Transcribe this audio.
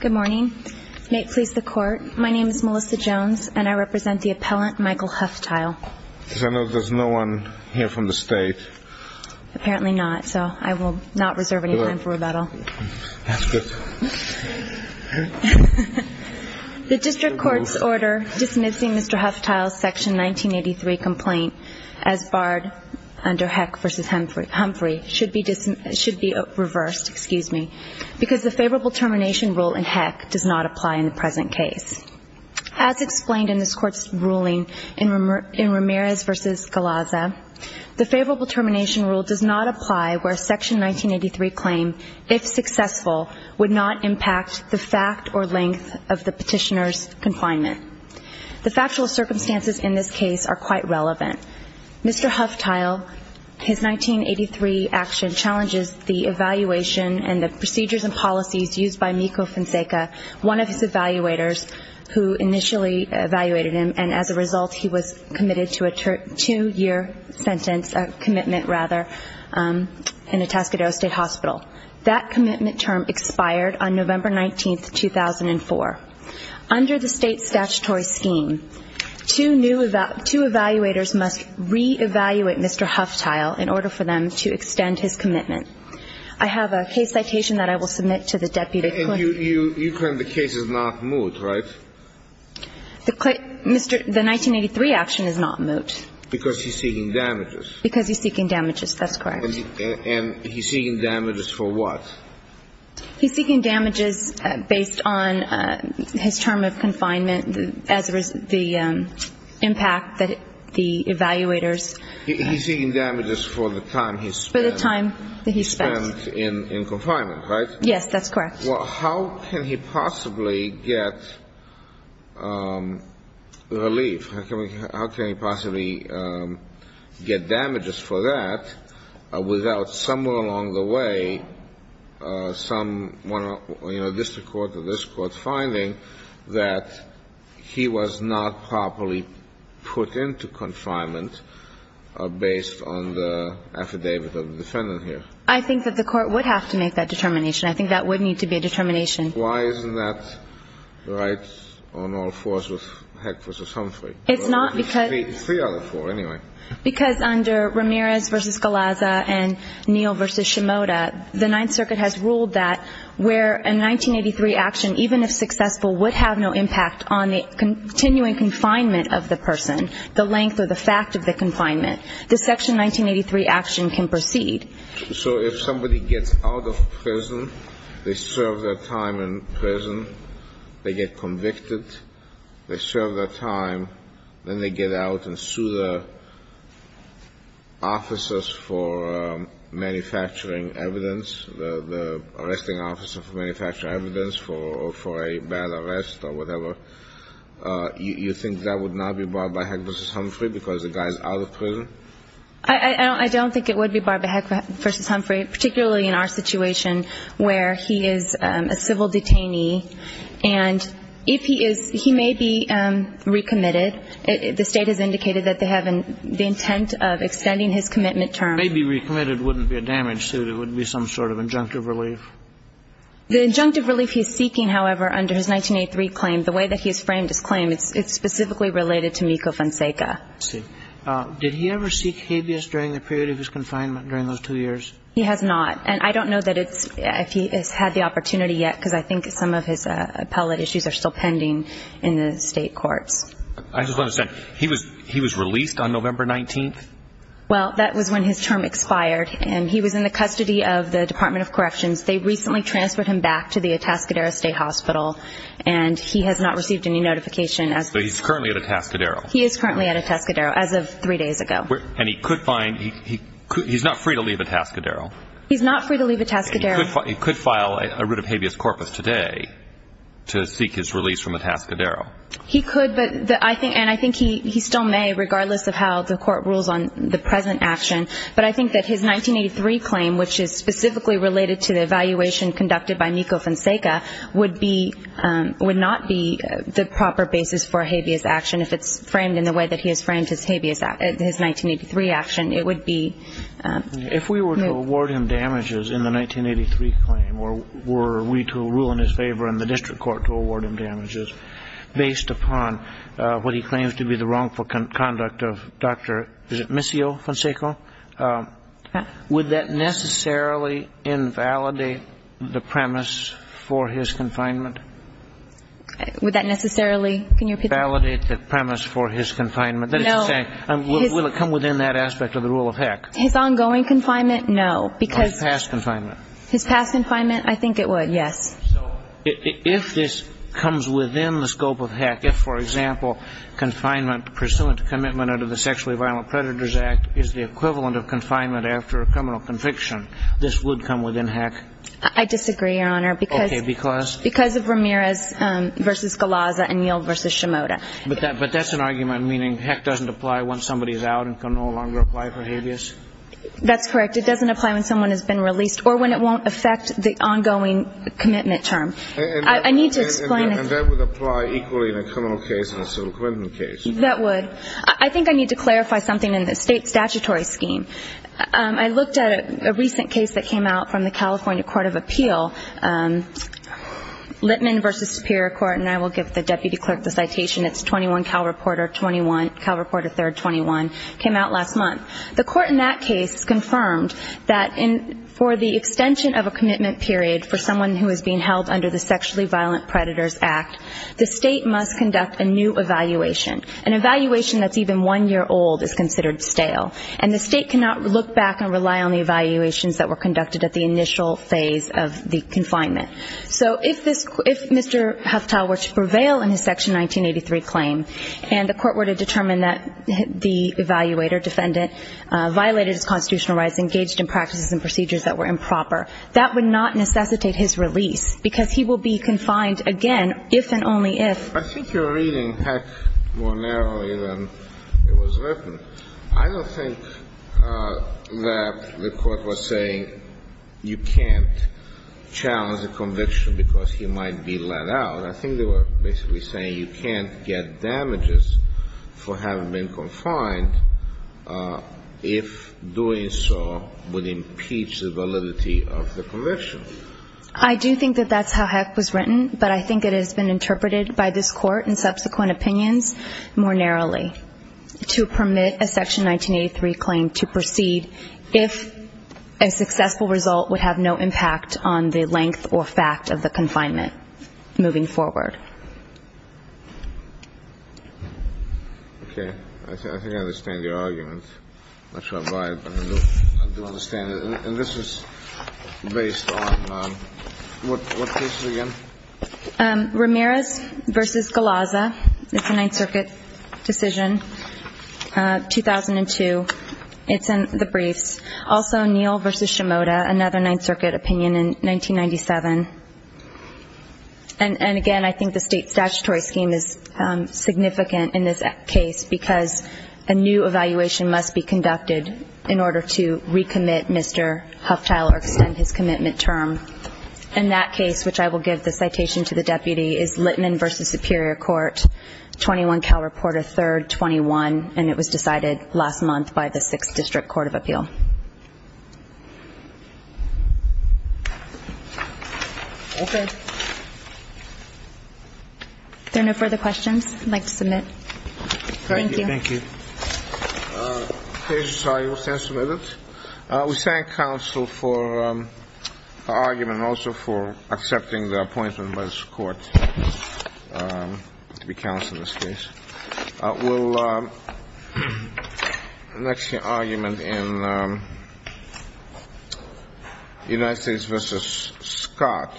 Good morning. May it please the court, my name is Melissa Jones and I represent the appellant Michael Huftile. I know there's no one here from the state. Apparently not, so I will not reserve any time for rebuttal. That's good. The district court's order dismissing Mr. Huftile's section 1983 complaint as barred under Heck v. Humphrey should be reversed. Excuse me. Because the favorable termination rule in Heck does not apply in the present case. As explained in this court's ruling in Ramirez v. Galazza, the favorable termination rule does not apply where section 1983 claim, if successful, would not impact the fact or length of the petitioner's confinement. The factual circumstances in this case are quite relevant. Mr. Huftile, his 1983 action challenges the evaluation and the procedures and policies used by Miccio-Fonseca, one of his evaluators who initially evaluated him, and as a result he was committed to a two-year sentence, a commitment rather, in Atascadero State Hospital. That commitment term expired on November 19, 2004. Under the state statutory scheme, two evaluators must reevaluate Mr. Huftile in order for them to extend his commitment. I have a case citation that I will submit to the deputy clerk. And you claim the case is not moot, right? The 1983 action is not moot. Because he's seeking damages. Because he's seeking damages. That's correct. And he's seeking damages for what? He's seeking damages based on his term of confinement as the impact that the evaluators. He's seeking damages for the time he spent. For the time that he spent. Spent in confinement, right? Yes, that's correct. Well, how can he possibly get relief? How can he possibly get damages for that without somewhere along the way some, you know, district court or this Court finding that he was not properly put into confinement based on the affidavit of the defendant here? I think that the Court would have to make that determination. Why isn't that right on all fours with Heck v. Humphrey? It's not because. Three other four, anyway. Because under Ramirez v. Galazza and Neal v. Shimoda, the Ninth Circuit has ruled that where a 1983 action, even if successful, would have no impact on the continuing confinement of the person, the length or the fact of the confinement, the Section 1983 action can proceed. So if somebody gets out of prison, they serve their time in prison, they get convicted, they serve their time, then they get out and sue the officers for manufacturing evidence, the arresting officer for manufacturing evidence for a bad arrest or whatever, you think that would not be barred by Heck v. Humphrey because the guy is out of prison? I don't think it would be barred by Heck v. Humphrey, particularly in our situation where he is a civil detainee. And if he is, he may be recommitted. The State has indicated that they have the intent of extending his commitment term. May be recommitted wouldn't be a damage suit. It would be some sort of injunctive relief. The injunctive relief he is seeking, however, under his 1983 claim, the way that he has framed his claim, it's specifically related to Mikko Fonseca. I see. Did he ever seek habeas during the period of his confinement during those two years? He has not. And I don't know if he has had the opportunity yet because I think some of his appellate issues are still pending in the State courts. I just want to say, he was released on November 19th? Well, that was when his term expired. And he was in the custody of the Department of Corrections. They recently transferred him back to the Atascadero State Hospital, and he has not received any notification. So he's currently at Atascadero? He is currently at Atascadero as of three days ago. And he's not free to leave Atascadero? He's not free to leave Atascadero. And he could file a writ of habeas corpus today to seek his release from Atascadero? He could, and I think he still may, regardless of how the court rules on the present action. But I think that his 1983 claim, which is specifically related to the evaluation conducted by Mikko Fonseca, would not be the proper basis for a habeas action if it's framed in the way that he has framed his 1983 action. It would be no. If we were to award him damages in the 1983 claim, were we to rule in his favor and the district court to award him damages based upon what he claims to be the wrongful conduct of Dr. Fonseca, would that necessarily invalidate the premise for his confinement? Would that necessarily, can you repeat that? Validate the premise for his confinement. That is to say, will it come within that aspect of the rule of Heck? His ongoing confinement, no. His past confinement. His past confinement, I think it would, yes. So if this comes within the scope of Heck, if, for example, confinement pursuant to commitment under the Sexually Violent Predators Act is the equivalent of confinement after a criminal conviction, this would come within Heck? I disagree, Your Honor. Okay, because? Because of Ramirez v. Galazza and Neal v. Shimoda. But that's an argument meaning Heck doesn't apply once somebody is out and can no longer apply for habeas? That's correct. It doesn't apply when someone has been released or when it won't affect the ongoing commitment term. I need to explain. And that would apply equally in a criminal case and a civil commitment case. That would. I think I need to clarify something in the state statutory scheme. I looked at a recent case that came out from the California Court of Appeal, Littman v. Superior Court, and I will give the deputy clerk the citation. It's 21 Cal Reporter, 21 Cal Reporter 3rd, 21. It came out last month. The court in that case confirmed that for the extension of a commitment period for someone who is being held under the Sexually Violent Predators Act, the state must conduct a new evaluation. An evaluation that's even one year old is considered stale. And the state cannot look back and rely on the evaluations that were conducted at the initial phase of the confinement. So if this Mr. Huftal were to prevail in his Section 1983 claim and the court were to determine that the evaluator, defendant, violated his constitutional rights, engaged in practices and procedures that were improper, that would not necessitate his release because he will be confined again if and only if. I think you're reading Heck more narrowly than it was written. I don't think that the court was saying you can't challenge a conviction because he might be let out. I think they were basically saying you can't get damages for having been confined if doing so would impeach the validity of the conviction. I do think that that's how Heck was written. But I think it has been interpreted by this court in subsequent opinions more narrowly to permit a Section 1983 claim to proceed if a successful result would have no impact on the length or fact of the confinement moving forward. Okay. I think I understand your argument. I'm not sure if I do understand it. And this is based on what case again? Ramirez v. Galazza. It's a Ninth Circuit decision, 2002. It's in the briefs. Also, Neal v. Shimoda, another Ninth Circuit opinion in 1997. And, again, I think the state statutory scheme is significant in this case because a new evaluation must be conducted in order to recommit Mr. Huftile or extend his commitment term. And that case, which I will give the citation to the deputy, is Littman v. Superior Court, 21 Cal Reporter 3rd, 21. And it was decided last month by the Sixth District Court of Appeal. Okay. If there are no further questions, I'd like to submit. Thank you. Thank you. Thank you. We thank counsel for argument and also for accepting the appointment by this court to be counsel in this case. We'll next hear argument in United States v. Scott.